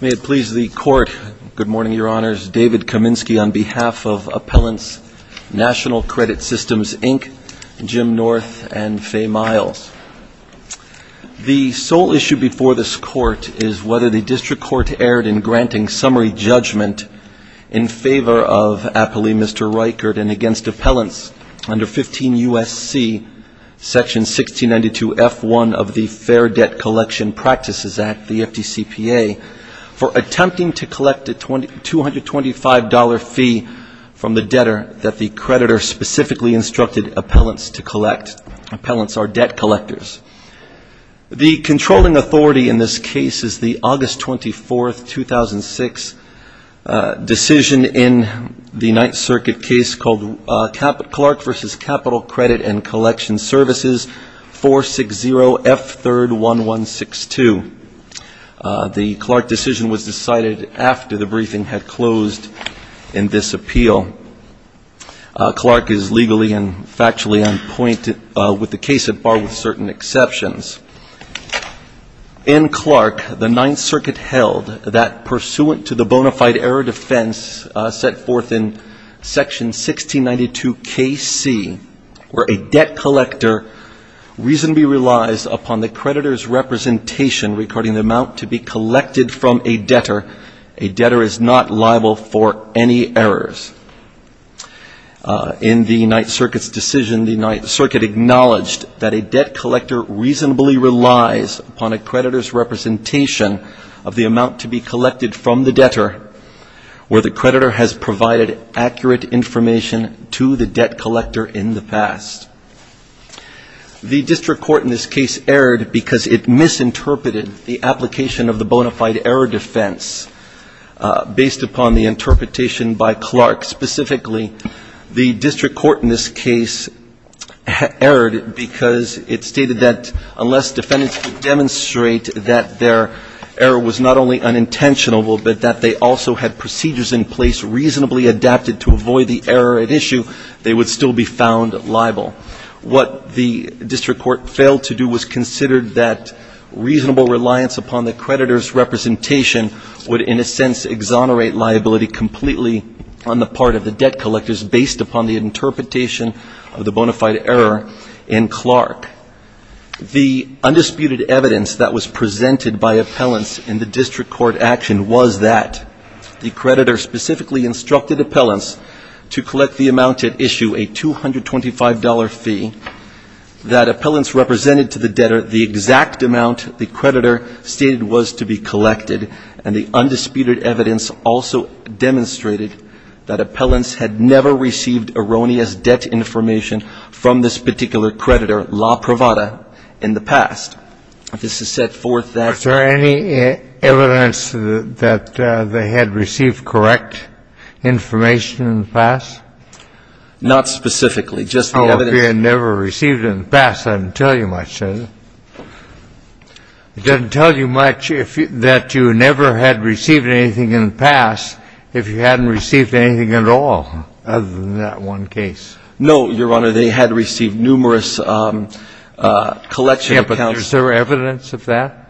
May it please the Court. Good morning, Your Honors. David Kaminsky on behalf of Appellants Nat'l Credit Systems, Inc., Jim North, and Faye Miles. The sole issue before this Court is whether the District Court erred in granting summary judgment in favor of Appellee Mr. Reichert and against Appellants under 15 U.S.C. Section 1692F1 of the Fair Debt Collection Practices Act, the FDCPA, for attempting to collect a $225 fee from the debtor that the creditor specifically instructed Appellants to collect. Appellants are debt collectors. The controlling authority in this case is the August 24, 2006, decision in the Ninth Circuit case called Clark v. Capital Credit and Collection Services, 460F3-1162. The Clark decision was decided after the briefing had closed in this appeal. Clark is legally and factually on point with the case at bar with certain exceptions. In Clark, the Ninth Circuit held that pursuant to the bona fide error defense set forth in Section 1692KC, where a debt collector reasonably relies upon the creditor's representation regarding the amount to be collected from a debtor, a debtor is not liable for any errors. In the Ninth Circuit's decision, the Ninth Circuit acknowledged that a debt collector reasonably relies upon a creditor's representation of the amount to be collected from the debtor where the creditor has provided accurate information to the debt collector in the past. The District Court in this case erred because it misinterpreted the application of the bona fide error defense based upon the interpretation by Clark. Specifically, the District Court in this case erred because it stated that unless defendants could demonstrate that their error was not only unintentional, but that they also had procedures in place reasonably adapted to avoid the error at issue, they would still be found liable. What the District Court failed to do was consider that reasonable reliance upon the creditor's representation would in a sense exonerate liability completely on the part of the debt collectors based upon the interpretation of the bona fide error in Clark. The undisputed evidence that was presented by appellants in the District Court action was that the creditor specifically instructed appellants to collect the amount at issue, a $225 fee, that appellants represented to the debtor the exact amount the creditor stated was to be collected, and the undisputed evidence also demonstrated that appellants had never received erroneous debt information from this particular creditor, la provada, in the past. This has set forth that ---- In the past? Not specifically, just the evidence. Oh, if they had never received it in the past, that doesn't tell you much, does it? It doesn't tell you much that you never had received anything in the past if you hadn't received anything at all other than that one case. No, Your Honor, they had received numerous collection accounts. Yeah, but is there evidence of that?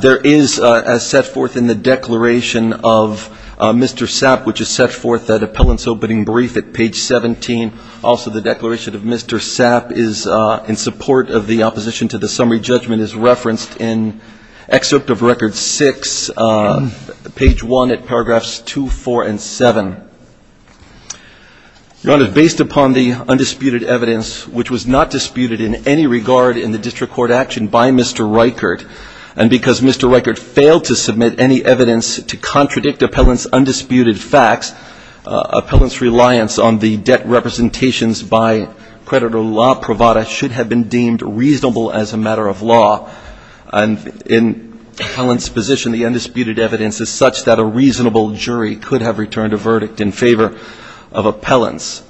There is, as set forth in the declaration of Mr. Sapp, which is set forth at appellant's opening brief at page 17. Also, the declaration of Mr. Sapp is in support of the opposition to the summary judgment is referenced in excerpt of record 6, page 1 at paragraphs 2, 4, and 7. Your Honor, based upon the undisputed evidence, which was not disputed in any regard in the district court action by Mr. Reichert, and because Mr. Reichert failed to submit any evidence to contradict appellant's undisputed facts, appellant's reliance on the debt representations by creditor la provada should have been deemed reasonable as a matter of law. And in appellant's position, the undisputed evidence is such that a reasonable jury could have returned a verdict in favor of appellant's.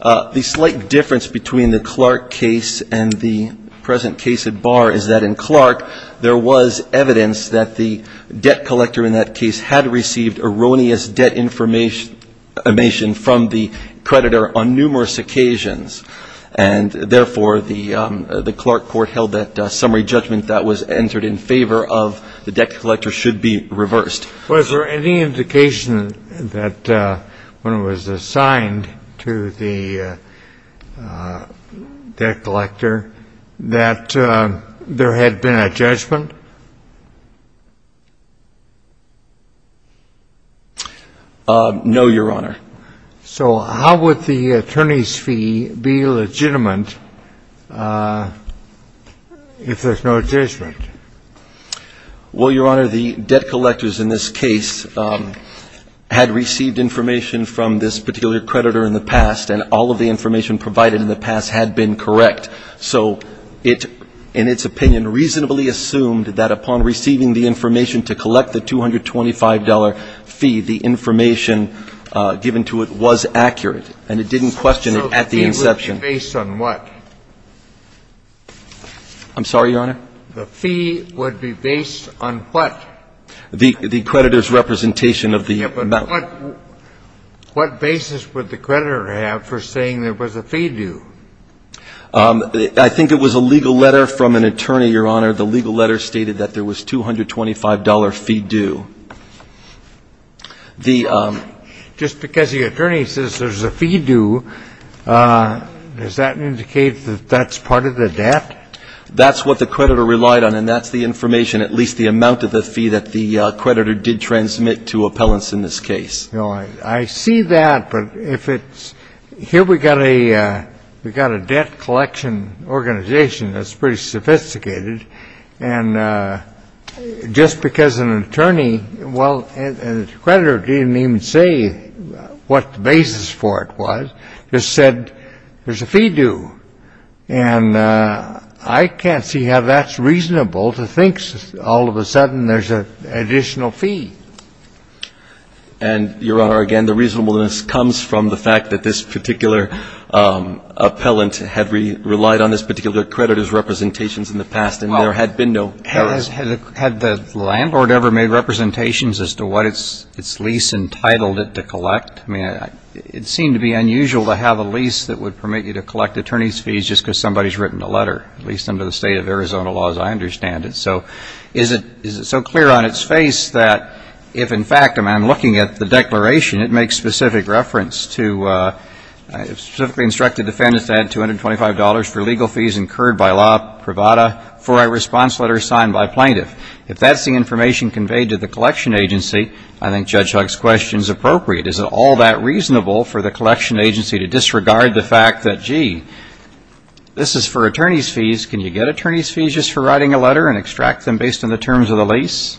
The slight difference between the Clark case and the present case at bar is that in Clark, there was evidence that the debt collector in that case had received erroneous debt information from the creditor on numerous occasions. And therefore, the Clark court held that summary judgment that was entered in favor of the debt collector should be reversed. Well, is there any indication that when it was assigned to the debt collector that there had been a judgment? No, Your Honor. So how would the attorney's fee be legitimate if there's no judgment? Well, Your Honor, the debt collectors in this case had received information from this particular creditor in the past, and all of the information provided in the past had been correct. So it, in its opinion, reasonably assumed that upon receiving the information to collect the $225 fee, the information given to it was accurate, and it didn't question it at the inception. I'm sorry, Your Honor? The fee would be based on what? The creditor's representation of the amount. Yeah, but what basis would the creditor have for saying there was a fee due? I think it was a legal letter from an attorney, Your Honor. The legal letter stated that there was $225 fee due. Just because the attorney says there's a fee due, does that indicate that that's part of the debt? That's what the creditor relied on, and that's the information, at least the amount of the fee that the creditor did transmit to appellants in this case. No, I see that, but if it's here we've got a debt collection organization that's pretty sophisticated, and just because an attorney and a creditor didn't even say what the basis for it was, just said there's a fee due, and I can't see how that's reasonable to think all of a sudden there's an additional fee. And, Your Honor, again, the reasonableness comes from the fact that this particular appellant had relied on this particular creditor's representations in the past, and there had been no errors. Had the landlord ever made representations as to what its lease entitled it to collect? I mean, it seemed to be unusual to have a lease that would permit you to collect attorney's fees just because somebody's written a letter, at least under the state of Arizona law, as I understand it. So is it so clear on its face that if, in fact, I'm looking at the declaration, it makes specific reference to, specifically instructed defendants to add $225 for legal fees incurred by law privada for a response letter signed by plaintiff. If that's the information conveyed to the collection agency, I think Judge Huck's question is appropriate. Is it all that reasonable for the collection agency to disregard the fact that, gee, this is for attorney's fees, can you get attorney's fees just for writing a letter and extract them based on the terms of the lease?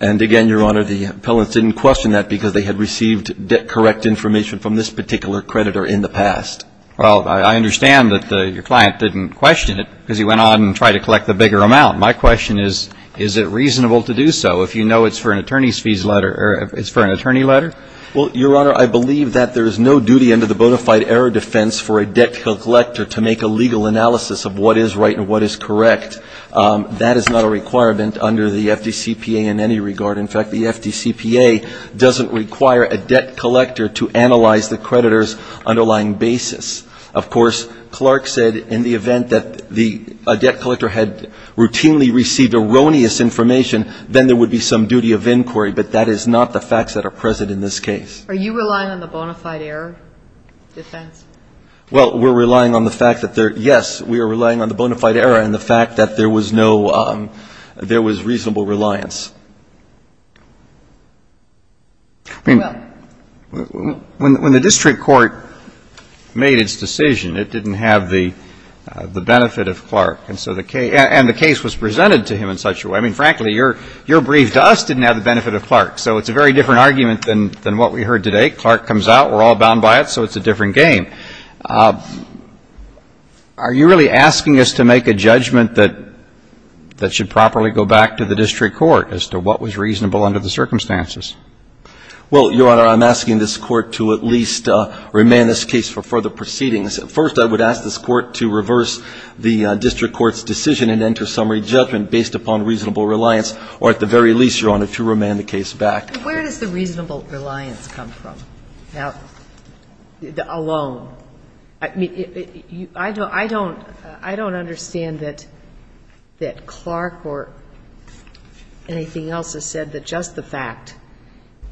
And, again, Your Honor, the appellants didn't question that because they had received correct information from this particular creditor in the past. Well, I understand that your client didn't question it because he went on and tried to collect a bigger amount. My question is, is it reasonable to do so if you know it's for an attorney's fees letter or it's for an attorney letter? Well, Your Honor, I believe that there is no duty under the bona fide error defense for a debt collector to make a legal analysis of what is right and what is correct. That is not a requirement under the FDCPA in any regard. In fact, the FDCPA doesn't require a debt collector to analyze the creditor's underlying basis. Of course, Clark said in the event that a debt collector had routinely received erroneous information, then there would be some duty of inquiry, but that is not the facts that are present in this case. Are you relying on the bona fide error defense? Well, we're relying on the fact that there yes, we are relying on the bona fide error and the fact that there was no there was reasonable reliance. When the district court made its decision, it didn't have the benefit of Clark. And so the case and the case was presented to him in such a way, I mean, frankly, your brief to us didn't have the benefit of Clark. So it's a very different argument than what we heard today. Clark comes out, we're all bound by it, so it's a different game. Are you really asking us to make a judgment that should properly go back to the district court as to what was reasonable under the circumstances? Well, Your Honor, I'm asking this Court to at least remand this case for further proceedings. First, I would ask this Court to reverse the district court's decision and enter summary judgment based upon reasonable reliance, or at the very least, Your Honor, to remand the case back. Where does the reasonable reliance come from alone? I don't understand that Clark or anything else has said that just the fact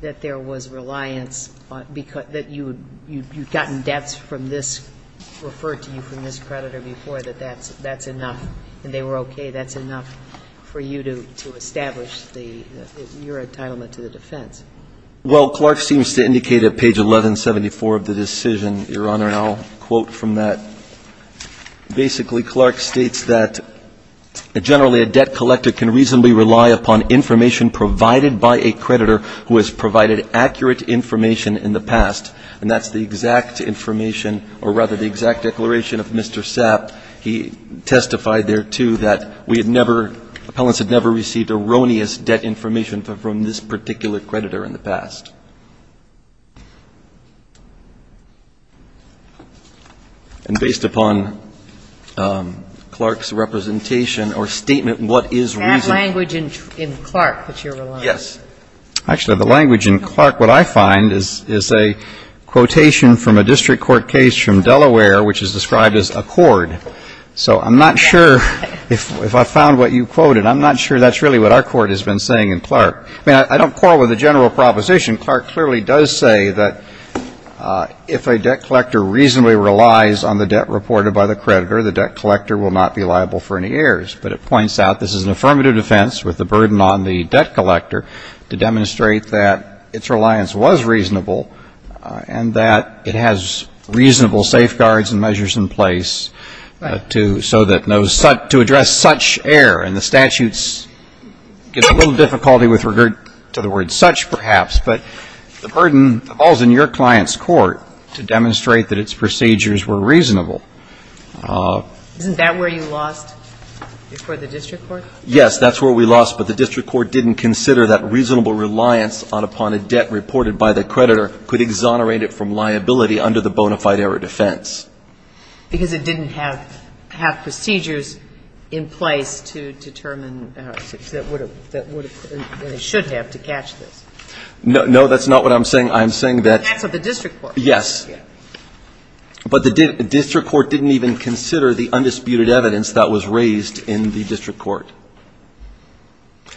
that there was reliance, that you'd gotten debts from this, referred to you from this creditor before, that that's enough and they were okay, that's enough for you to establish your entitlement to the defense. Well, Clark seems to indicate at page 1174 of the decision, Your Honor, and I'll quote from that. Basically, Clark states that generally a debt collector can reasonably rely upon information provided by a creditor who has provided accurate information in the past, and that's the exact information or rather the exact declaration of Mr. Sapp. He testified there, too, that we had never, appellants had never received erroneous debt information from this particular creditor in the past. And based upon Clark's representation or statement, what is reasonable? Is that language in Clark that you're relying on? Yes. Actually, the language in Clark, what I find, is a quotation from a district court case from Delaware which is described as a cord. So I'm not sure if I found what you quoted. I'm not sure that's really what our court has been saying in Clark. I mean, I don't quarrel with the general proposition. Clark clearly does say that if a debt collector reasonably relies on the debt reported by the creditor, the debt collector will not be liable for any errors. But it points out this is an affirmative defense with the burden on the debt collector to demonstrate that its reliance was reasonable and that it has reasonable safeguards and measures in place to so that no such to address such error. And the statutes give a little difficulty with regard to the word such, perhaps, but the burden falls in your client's court to demonstrate that its procedures were reasonable. Isn't that where you lost before the district court? Yes. That's where we lost. But the district court didn't consider that reasonable reliance upon a debt reported by the creditor could exonerate it from liability under the bona fide error defense. Because it didn't have procedures in place to determine what it should have to catch this. No. That's not what I'm saying. I'm saying that the district court. Yes. But the district court didn't even consider the undisputed evidence that was raised in the district court.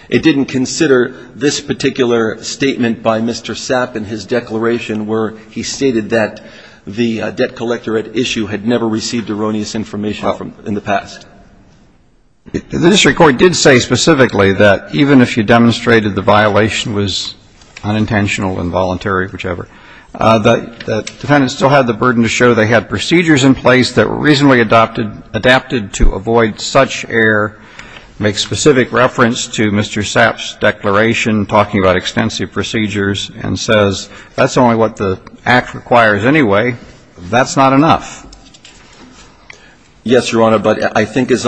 It didn't consider this particular statement by Mr. Sapp in his declaration where he stated that the debt collector at issue had never received erroneous information in the past. The district court did say specifically that even if you demonstrated the violation was unintentional, involuntary, whichever, the defendant still had the burden to show they had procedures in place that were reasonably adapted to avoid such error, make specific reference to Mr. Sapp's declaration talking about extensive procedures, and says that's only what the act requires anyway. That's not enough. Yes, Your Honor. But I think as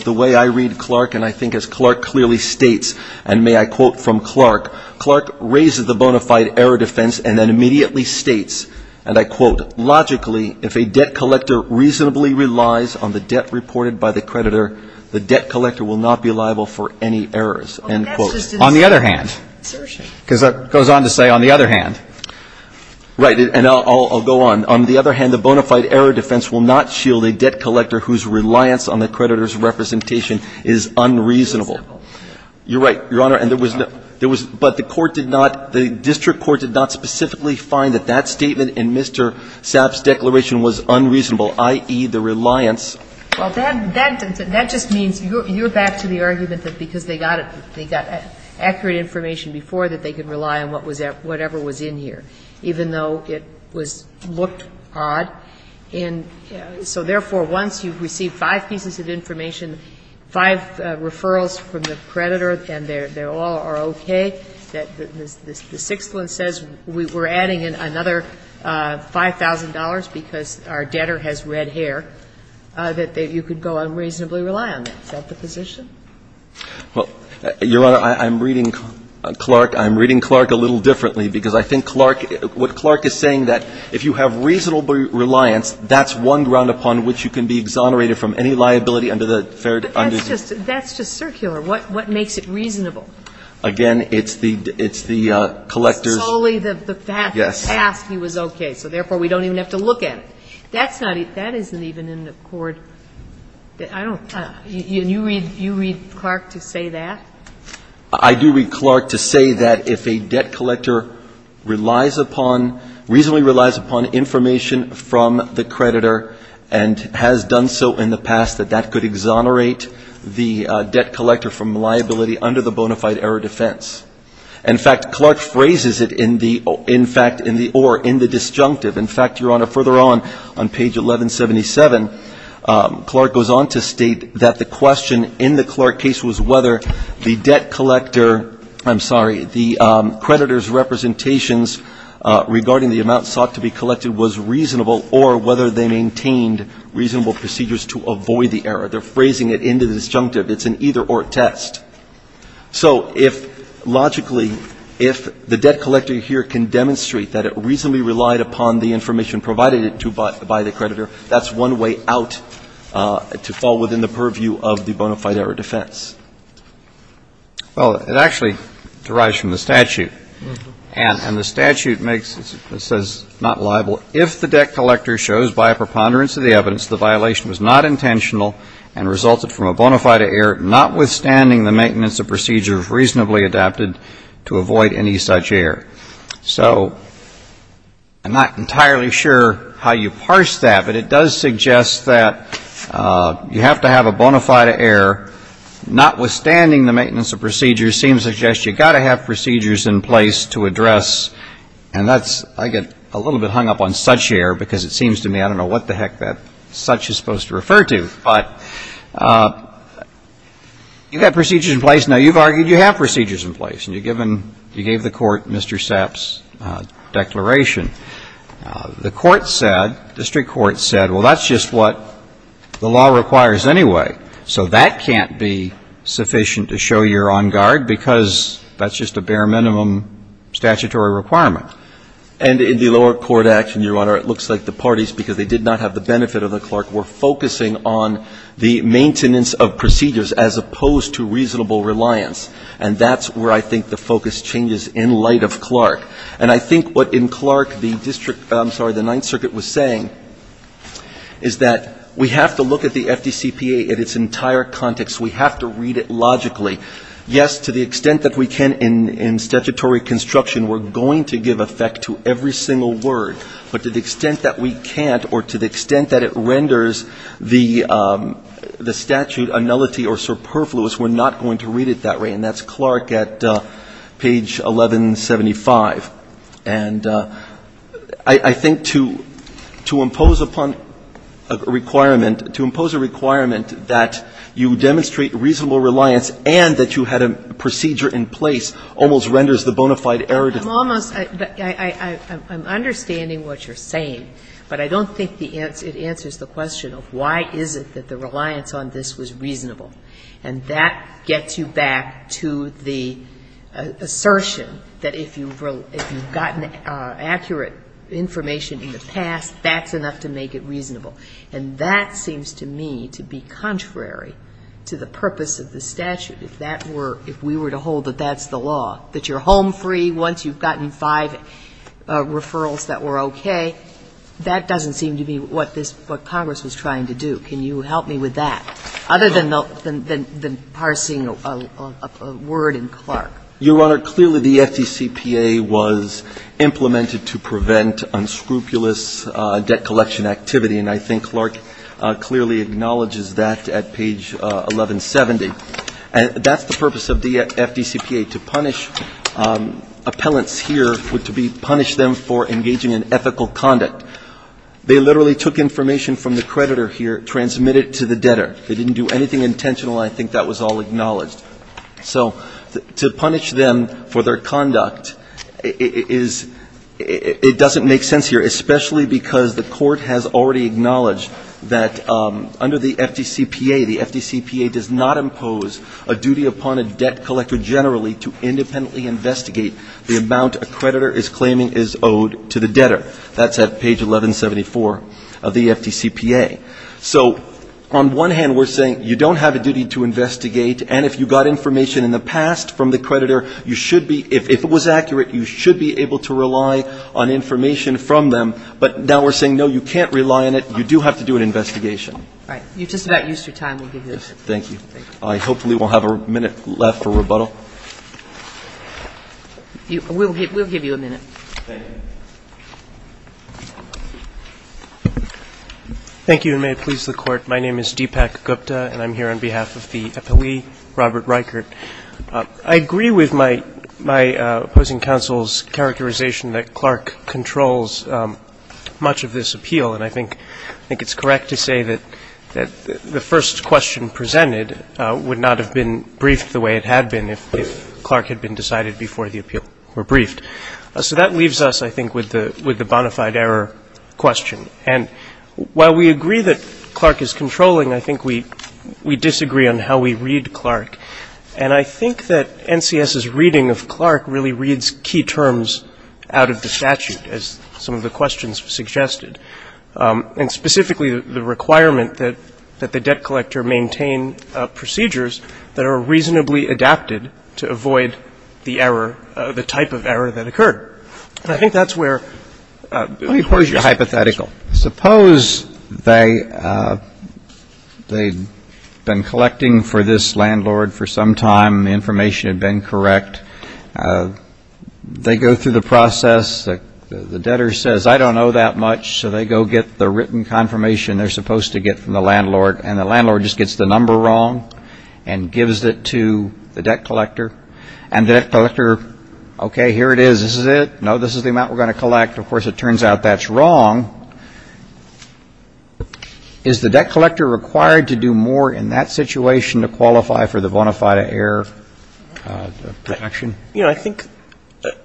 the way I read Clark, and I think as Clark clearly states, and may I quote from Clark, Clark raises the bona fide error defense and then immediately states, and I quote, logically, if a debt collector reasonably relies on the debt reported by the creditor, the debt collector will not be liable for any errors, end quote. On the other hand, because it goes on to say on the other hand. Right. And I'll go on. On the other hand, the bona fide error defense will not shield a debt collector whose reliance on the creditor's representation is unreasonable. You're right, Your Honor. And there was no, there was, but the court did not, the district court did not specifically find that that statement in Mr. Sapp's declaration was unreasonable, i.e., the reliance. Well, that, that just means you're back to the argument that because they got it, they got accurate information before that they could rely on whatever was in here, even though it was, looked odd. And so therefore, once you've received five pieces of information, five referrals from the creditor, and they all are okay, that the sixth one says we're adding in another $5,000 because our debtor has red hair, that you could go unreasonably rely on that. Is that the position? Well, Your Honor, I'm reading Clark, I'm reading Clark a little differently, because I think Clark, what Clark is saying that if you have reasonable reliance, that's one ground upon which you can be exonerated from any liability under the third under the third. That's just, that's just circular. What, what makes it reasonable? Again, it's the, it's the collector's. It's solely the fact, the fact he was okay, so therefore we don't even have to look at it. That's not, that isn't even in the court, I don't, you read, you read Clark to say that? I do read Clark to say that if a debt collector relies upon, reasonably relies upon information from the creditor and has done so in the past, that that could exonerate the debt collector from liability under the bona fide error defense. In fact, Clark phrases it in the, in fact, in the, or in the disjunctive. In fact, Your Honor, further on, on page 1177, Clark goes on to state that the question in the Clark case was whether the debt collector, I'm sorry, the creditor's representations regarding the amount sought to be collected was reasonable or whether they maintained reasonable procedures to avoid the error. They're phrasing it in the disjunctive. It's an either-or test. So if logically, if the debt collector here can demonstrate that it reasonably relied upon the information provided to, by the creditor, that's one way out to fall within the purview of the bona fide error defense. Well, it actually derives from the statute, and the statute makes, it says, not liable if the debt collector shows by a preponderance of the evidence the violation was not intentional and resulted from a bona fide error notwithstanding the maintenance of procedures reasonably adapted to avoid any such error. So I'm not entirely sure how you parse that, but it does suggest that you have to have a bona fide error notwithstanding the maintenance of procedures seems to suggest you've got to have procedures in place to address, and that's, I get a little bit hung up on such error because it seems to me, I don't know what the heck that such is supposed to refer to, but you've got procedures in place. Now, you've argued you have procedures in place, and you gave the court Mr. Sepp's declaration. The court said, district court said, well, that's just what the law requires anyway, so that can't be sufficient to show you're on guard because that's just a bare minimum statutory requirement. And in the lower court action, Your Honor, it looks like the parties, because they did not have the benefit of the clerk, were focusing on the maintenance of procedures as opposed to reasonable reliance. And I think what in Clark the district, I'm sorry, the Ninth Circuit was saying is that we have to look at the FDCPA in its entire context. We have to read it logically. Yes, to the extent that we can in statutory construction, we're going to give effect to every single word, but to the extent that we can't or to the extent that it renders the statute a nullity or superfluous, we're not going to read it that way, and that's And I think to impose upon a requirement, to impose a requirement that you demonstrate reasonable reliance and that you had a procedure in place almost renders the bona fide error to the court. I'm almost, I'm understanding what you're saying, but I don't think it answers the question of why is it that the reliance on this was reasonable, and that gets you back to the accurate information in the past, that's enough to make it reasonable. And that seems to me to be contrary to the purpose of the statute. If that were, if we were to hold that that's the law, that you're home free once you've gotten five referrals that were okay, that doesn't seem to be what this, what Congress was trying to do. Can you help me with that? Other than the parsing of a word in Clark. Your Honor, clearly the FDCPA was implemented to prevent unscrupulous debt collection activity, and I think Clark clearly acknowledges that at page 1170. And that's the purpose of the FDCPA, to punish appellants here, to punish them for engaging in ethical conduct. They literally took information from the creditor here, transmitted it to the debtor. They didn't do anything intentional, and I think that was all acknowledged. So to punish them for their conduct is, it doesn't make sense here, especially because the court has already acknowledged that under the FDCPA, the FDCPA does not impose a duty upon a debt collector generally to independently investigate the amount a creditor is claiming is owed to the debtor. That's at page 1174 of the FDCPA. So on one hand, we're saying you don't have a duty to investigate, and if you got information in the past from the creditor, you should be, if it was accurate, you should be able to rely on information from them. But now we're saying, no, you can't rely on it, you do have to do an investigation. All right. You're just about used to your time. We'll give you a minute. Thank you, and may it please the Court. My name is Deepak Gupta, and I'm here on behalf of the appellee, Robert Reichert. I agree with my opposing counsel's characterization that Clark controls much of this appeal, and I think it's correct to say that the first question presented would not have been briefed the way it had been if Clark had been decided before the appeal were briefed. So that leaves us, I think, with the bona fide error question. And while we agree that Clark is controlling, I think we disagree on how we read Clark. And I think that NCS's reading of Clark really reads key terms out of the statute, as some of the questions suggested, and specifically the requirement that the debt collector maintain procedures that are reasonably adapted to avoid the error, the type of error that occurred. And I think that's where you're hypothetical. Suppose they've been collecting for this landlord for some time, the information had been correct. They go through the process. The debtor says, I don't know that much. So they go get the written confirmation they're supposed to get from the landlord. And the landlord just gets the number wrong and gives it to the debt collector. And the debt collector, okay, here it is, this is it, no, this is the amount we're going to collect. Of course, it turns out that's wrong. Is the debt collector required to do more in that situation to qualify for the bona fide error action? You know, I think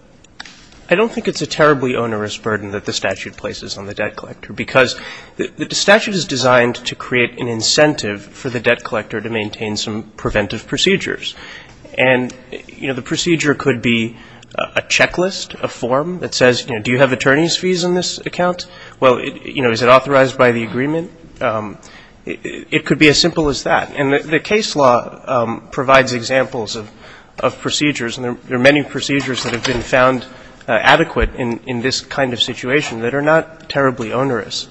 — I don't think it's a terribly onerous burden that the statute places on the debt collector, because the statute is designed to create an incentive for the debt collector to maintain some preventive procedures. And, you know, the procedure could be a checklist, a form that says, you know, do you have attorney's fees on this account? Well, you know, is it authorized by the agreement? It could be as simple as that. And the case law provides examples of procedures, and there are many procedures that have been found adequate in this kind of situation that are not terribly onerous.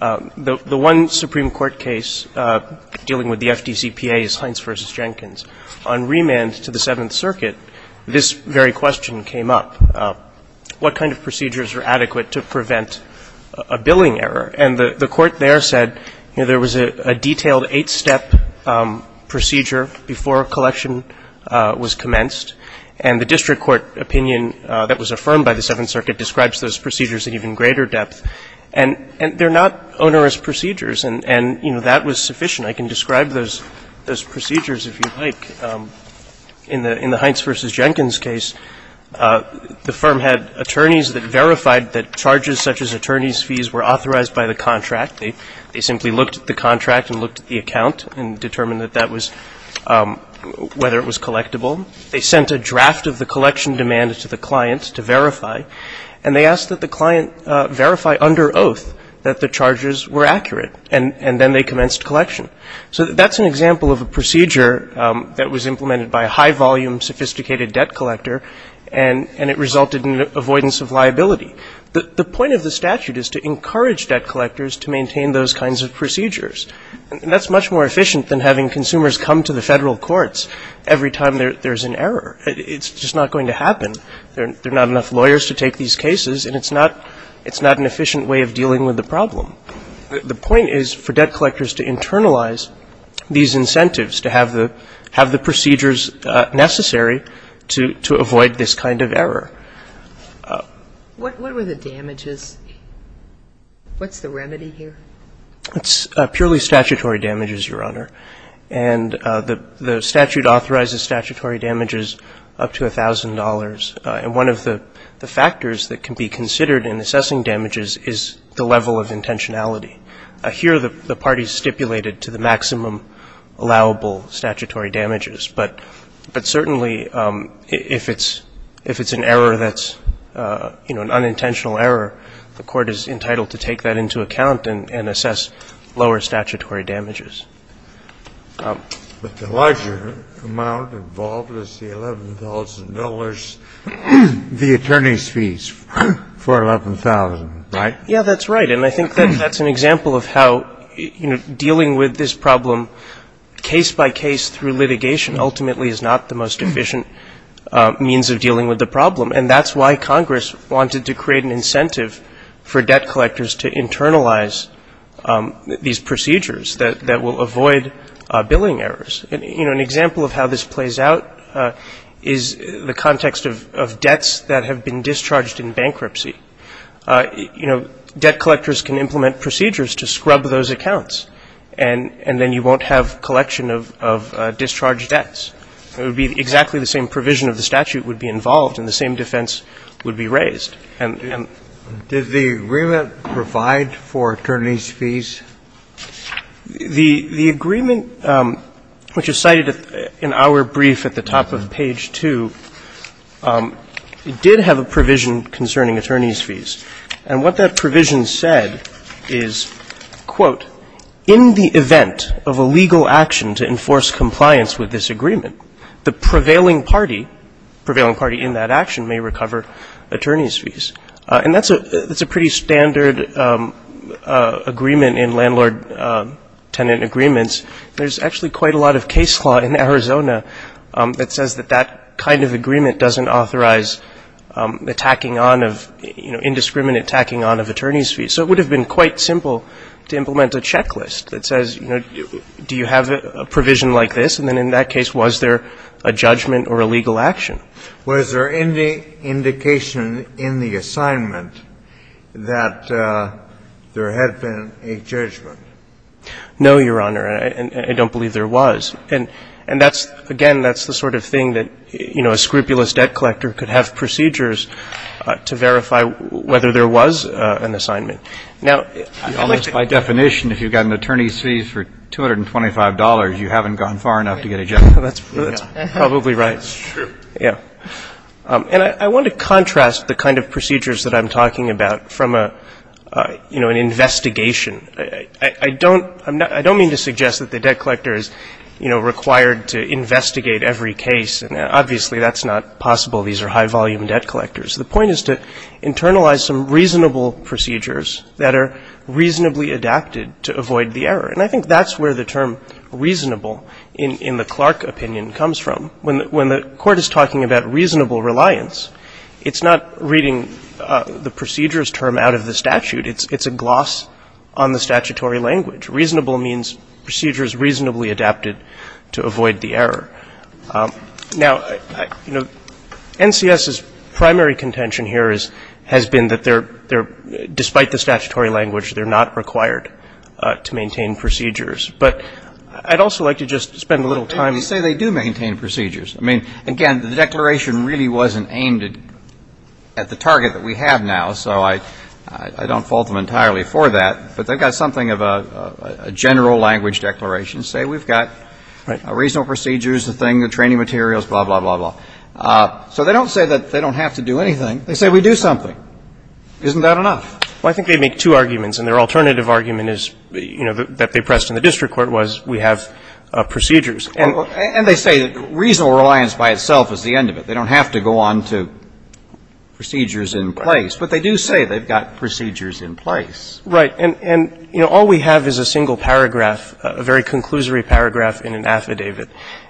The one Supreme Court case dealing with the FDCPA is Hines v. Jenkins. On remand to the Seventh Circuit, this very question came up. What kind of procedures are adequate to prevent a billing error? And the Court there said, you know, there was a detailed eight-step procedure before collection was commenced, and the district court opinion that was affirmed by the Seventh Circuit was, you know, you have to apply the 酈 laisser depth, and they're not onerous procedures, and you know, that was sufficient. I can describe those procedures if you like. The firm had attorneys that verified that charges such as attorney's fees were authorized by the contract. They simply looked at the contract and looked at the account and determined that that was・・ whether it was collectible. They sent a draft of the collection demand to the client to verify, and they asked that the client verify under oath that the charges were accurate, and then they commenced collection. So that's an example of a procedure that was implemented by a high-volume, sophisticated debt collector, and it resulted in avoidance of liability. The point of the statute is to encourage debt collectors to maintain those kinds of procedures, and that's much more efficient than having consumers come to the Federal courts every time there's an error. It's just not going to happen. There are not enough lawyers to take these cases, and it's not an efficient way of dealing with the problem. The point is for debt collectors to internalize these incentives, to have the procedures necessary to avoid this kind of error. What were the damages? What's the remedy here? It's purely statutory damages, Your Honor, and the statute authorizes statutory damages up to $1,000, and one of the factors that can be considered in assessing damages is the level of intentionality. Here, the parties stipulated to the maximum allowable statutory damages, but certainly, if it's・・ if it's an error of a certain order that's, you know, an unintentional error, the court is entitled to take that into account and assess lower statutory damages. But the larger amount involved is the $11,000, the attorney's fees for 11,000, right? Yeah, that's right, and I think that's an example of how, you know, dealing with this problem case by case through litigation ultimately is not the most efficient means of dealing with the problem, and that's why Congress wanted to create an incentive for debt collectors to internalize these procedures that will avoid billing errors. You know, an example of how this plays out is the context of debts that have been discharged in bankruptcy. You know, debt collectors can implement procedures to scrub those accounts, and then you won't have collection of discharged debts. It would be exactly the same provision of the statute would be involved and the same defense would be raised, and・・ Did the agreement provide for attorney's fees? The agreement, which is cited in our brief at the top of page 2, did have a provision concerning attorney's fees, and what that provision said is, quote,・・ in the event of a legal action to enforce compliance with this agreement, the prevailing party・・ prevailing party in that action may recover attorney's fees. And that's a・・ that's a pretty standard agreement in landlord-tenant agreements. There's actually quite a lot of case law in Arizona that says that that kind of agreement doesn't authorize attacking on of, you know, indiscriminate attacking on of attorney's fees. So it would have been quite simple to implement a checklist that says, you know, do you have a provision like this? And then in that case, was there a judgment or a legal action? Was there any indication in the assignment that there had been a judgment? No, Your Honor. I don't believe there was. And that's・・ again, that's the sort of thing that, you know, a scrupulous debt collector could have procedures to verify whether there was an assignment. Now, I'd like to・・ Almost by definition, if you've got an attorney's fees for $225, you haven't gone far enough to get a judgment. That's probably right. That's true. Yeah. And I want to contrast the kind of procedures that I'm talking about from, you know, an investigation. I don't・・ I don't mean to suggest that the debt collector is, you know, required to investigate every case. Obviously, that's not possible. These are high-volume debt collectors. The point is to internalize some reasonable procedures that are reasonably adapted to avoid the error. And I think that's where the term reasonable in the Clark opinion comes from. When the court is talking about reasonable reliance, it's not reading the procedures term out of the statute. It's a gloss on the statutory language. Reasonable means procedures reasonably adapted to avoid the error. Now, NCS's primary contention here has been that they're・・ despite the statutory language, they're not required to maintain procedures. But I'd also like to just spend a little time・・ They say they do maintain procedures. I mean, again, the declaration really wasn't aimed at the target that we have now, so I don't fault them entirely for that. But they've got something of a general language declaration. They say we've got reasonable procedures, the thing, the training materials, blah, blah, blah, blah. So they don't say that they don't have to do anything. They say we do something. Isn't that enough? Well, I think they make two arguments, and their alternative argument is, you know, that they pressed in the district court was we have procedures. And they say that reasonable reliance by itself is the end of it. They don't have to go on to procedures in place. But they do say they've got procedures in place. Right. And, you know, all we have is a single paragraph, a very conclusory paragraph in an affidavit.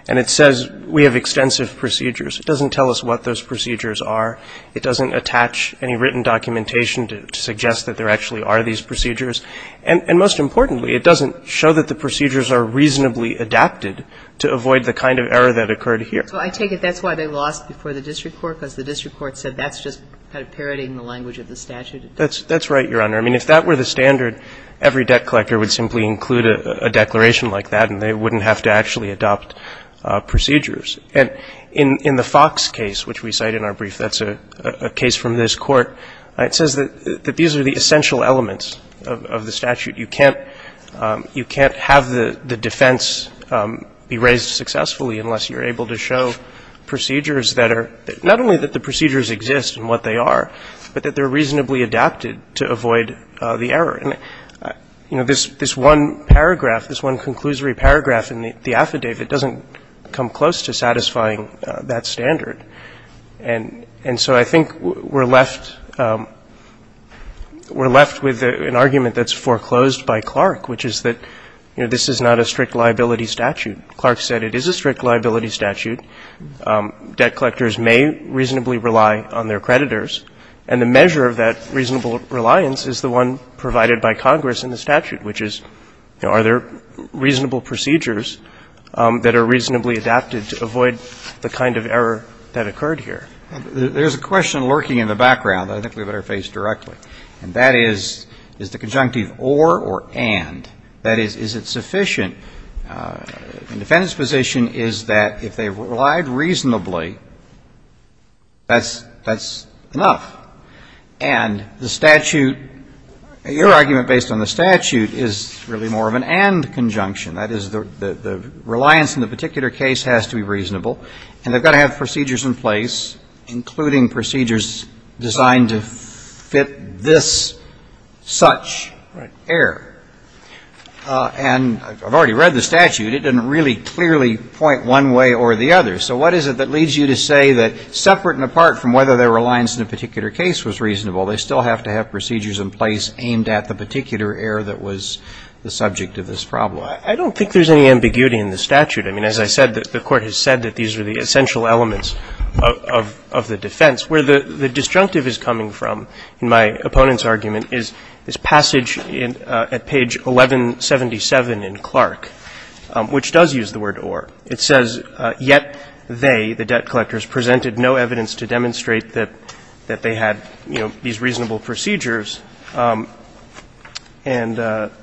And it says we have extensive procedures. It doesn't tell us what those procedures are. It doesn't attach any written documentation to suggest that there actually are these procedures. And most importantly, it doesn't show that the procedures are reasonably adapted to avoid the kind of error that occurred here. So I take it that's why they lost before the district court, because the district court said that's just kind of parodying the language of the statute. That's right, Your Honor. I mean, if that were the standard, every debt collector would simply include a declaration like that, and they wouldn't have to actually adopt procedures. And in the Fox case, which we cite in our brief, that's a case from this Court, it says that these are the essential elements of the statute. You can't have the defense be raised successfully unless you're able to show procedures that are not only that the procedures exist and what they are, but that they're the ones that avoid the error. And, you know, this one paragraph, this one conclusory paragraph in the affidavit doesn't come close to satisfying that standard. And so I think we're left with an argument that's foreclosed by Clark, which is that, you know, this is not a strict liability statute. Clark said it is a strict liability statute. Debt collectors may reasonably rely on their creditors. And the measure of that reasonable reliance is the one provided by Congress in the statute, which is, you know, are there reasonable procedures that are reasonably adapted to avoid the kind of error that occurred here? There's a question lurking in the background that I think we better face directly, and that is, is the conjunctive or or and. That is, is it sufficient? The defendant's position is that if they relied reasonably, that's enough. And the statute, your argument based on the statute, is really more of an and conjunction. That is, the reliance in the particular case has to be reasonable. And they've got to have procedures in place, including procedures designed to fit this such error. And I've already read the statute. It doesn't really clearly point one way or the other. So what is it that leads you to say that, separate and apart from whether their reliance in a particular case was reasonable, they still have to have procedures in place aimed at the particular error that was the subject of this problem? I don't think there's any ambiguity in the statute. I mean, as I said, the Court has said that these are the essential elements of the defense. Where the disjunctive is coming from in my opponent's argument is this passage at page 1177 in Clark, which does use the word or. It says, Yet they, the debt collectors, presented no evidence to demonstrate that they had, you know, these reasonable procedures and –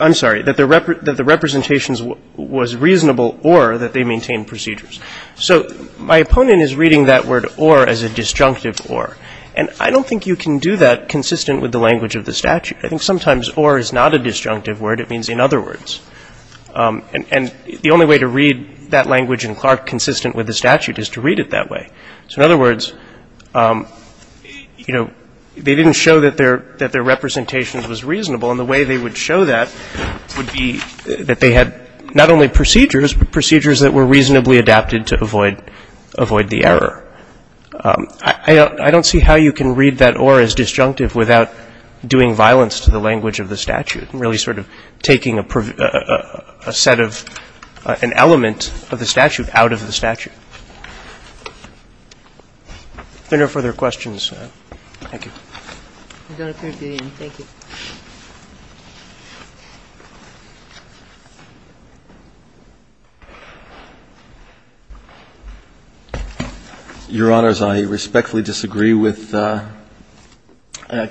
I'm sorry, that the representations was reasonable or that they maintained procedures. So my opponent is reading that word or as a disjunctive or. And I don't think you can do that consistent with the language of the statute. I think sometimes or is not a disjunctive word. It means in other words. And the only way to read that language in Clark consistent with the statute is to read it that way. So in other words, you know, they didn't show that their representation was reasonable. And the way they would show that would be that they had not only procedures, but procedures that were reasonably adapted to avoid the error. I don't see how you can read that or as disjunctive without doing violence to the language of the statute and really sort of taking a set of – an element of the statute out of the statute. If there are no further questions, thank you. Your Honor, I respectfully disagree with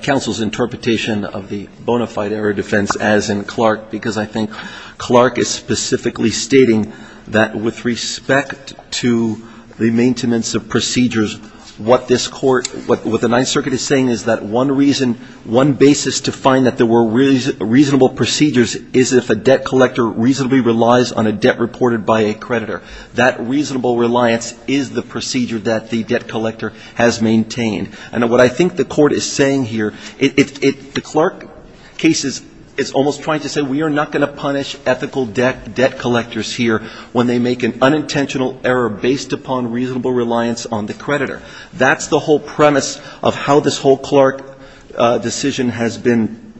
counsel's interpretation of the bona fide error defense as in Clark because I think Clark is specifically stating that with respect to the maintenance of procedures, what this Court, what the Ninth Circuit is saying is that one reason, one basis to find that there were reasonable procedures is if a debt collector reasonably relies on a debt reported by a creditor. That reasonable reliance is the procedure that the debt collector has maintained. And what I think the Court is saying here, the Clark case is almost trying to say we are not going to punish ethical debt collectors here when they make an unintentional error based upon reasonable reliance on the creditor. That's the whole premise of how this whole Clark decision has been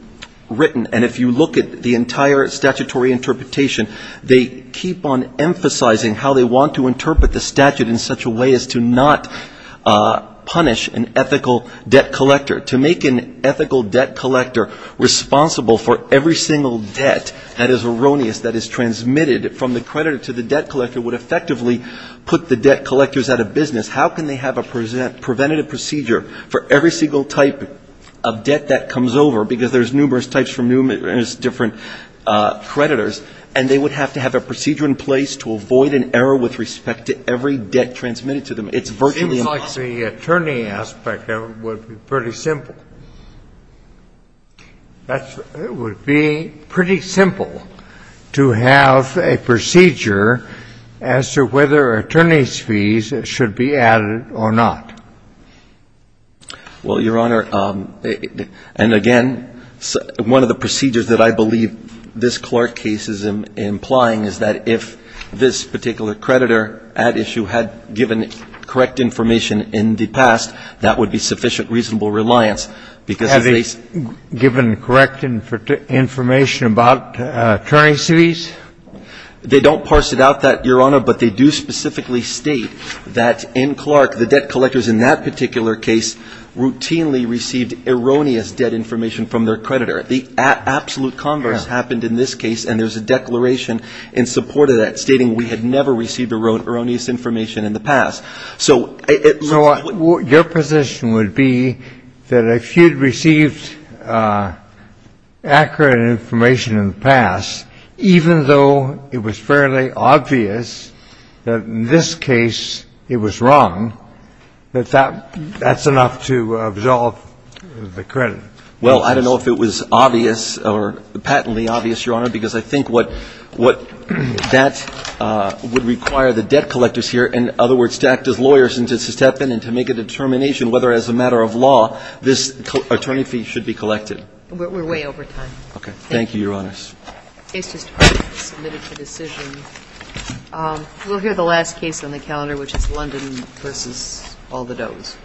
written. And if you look at the entire statutory interpretation, they keep on emphasizing how they want to interpret the statute in such a way as to not punish an ethical debt collector. To make an ethical debt collector responsible for every single debt that is erroneous that is transmitted from the creditor to the debt collector would effectively put the debt collectors out of business. How can they have a preventative procedure for every single type of debt that comes over, because there's numerous types from numerous different creditors, and they would have to have a procedure in place to avoid an error with respect to every debt transmitted to them? It's virtually impossible. It seems like the attorney aspect of it would be pretty simple. It would be pretty simple to have a procedure as to whether attorney's fees should be added or not. Well, Your Honor, and again, one of the procedures that I believe this Clark case is implying is that if this particular creditor at issue had given correct information in the past, that would be sufficient reasonable reliance, because if they see the They don't parse it out that, Your Honor, but they do specifically state that in Clark the debt collectors in that particular case routinely received erroneous debt information from their creditor. The absolute converse happened in this case, and there's a declaration in support of that stating we had never received erroneous information in the past. So it looks like your position would be that if you'd received accurate information in the past, even though it was fairly obvious that in this case it was wrong, that that's enough to absolve the creditor. Well, I don't know if it was obvious or patently obvious, Your Honor, because I think what that would require the debt collectors here, in other words, to act as lawyers and to step in and to make a determination whether as a matter of law this attorney fee should be collected. We're way over time. Okay. Thank you, Your Honors. The case is submitted for decision. We'll hear the last case on the calendar, which is London v. All the Does.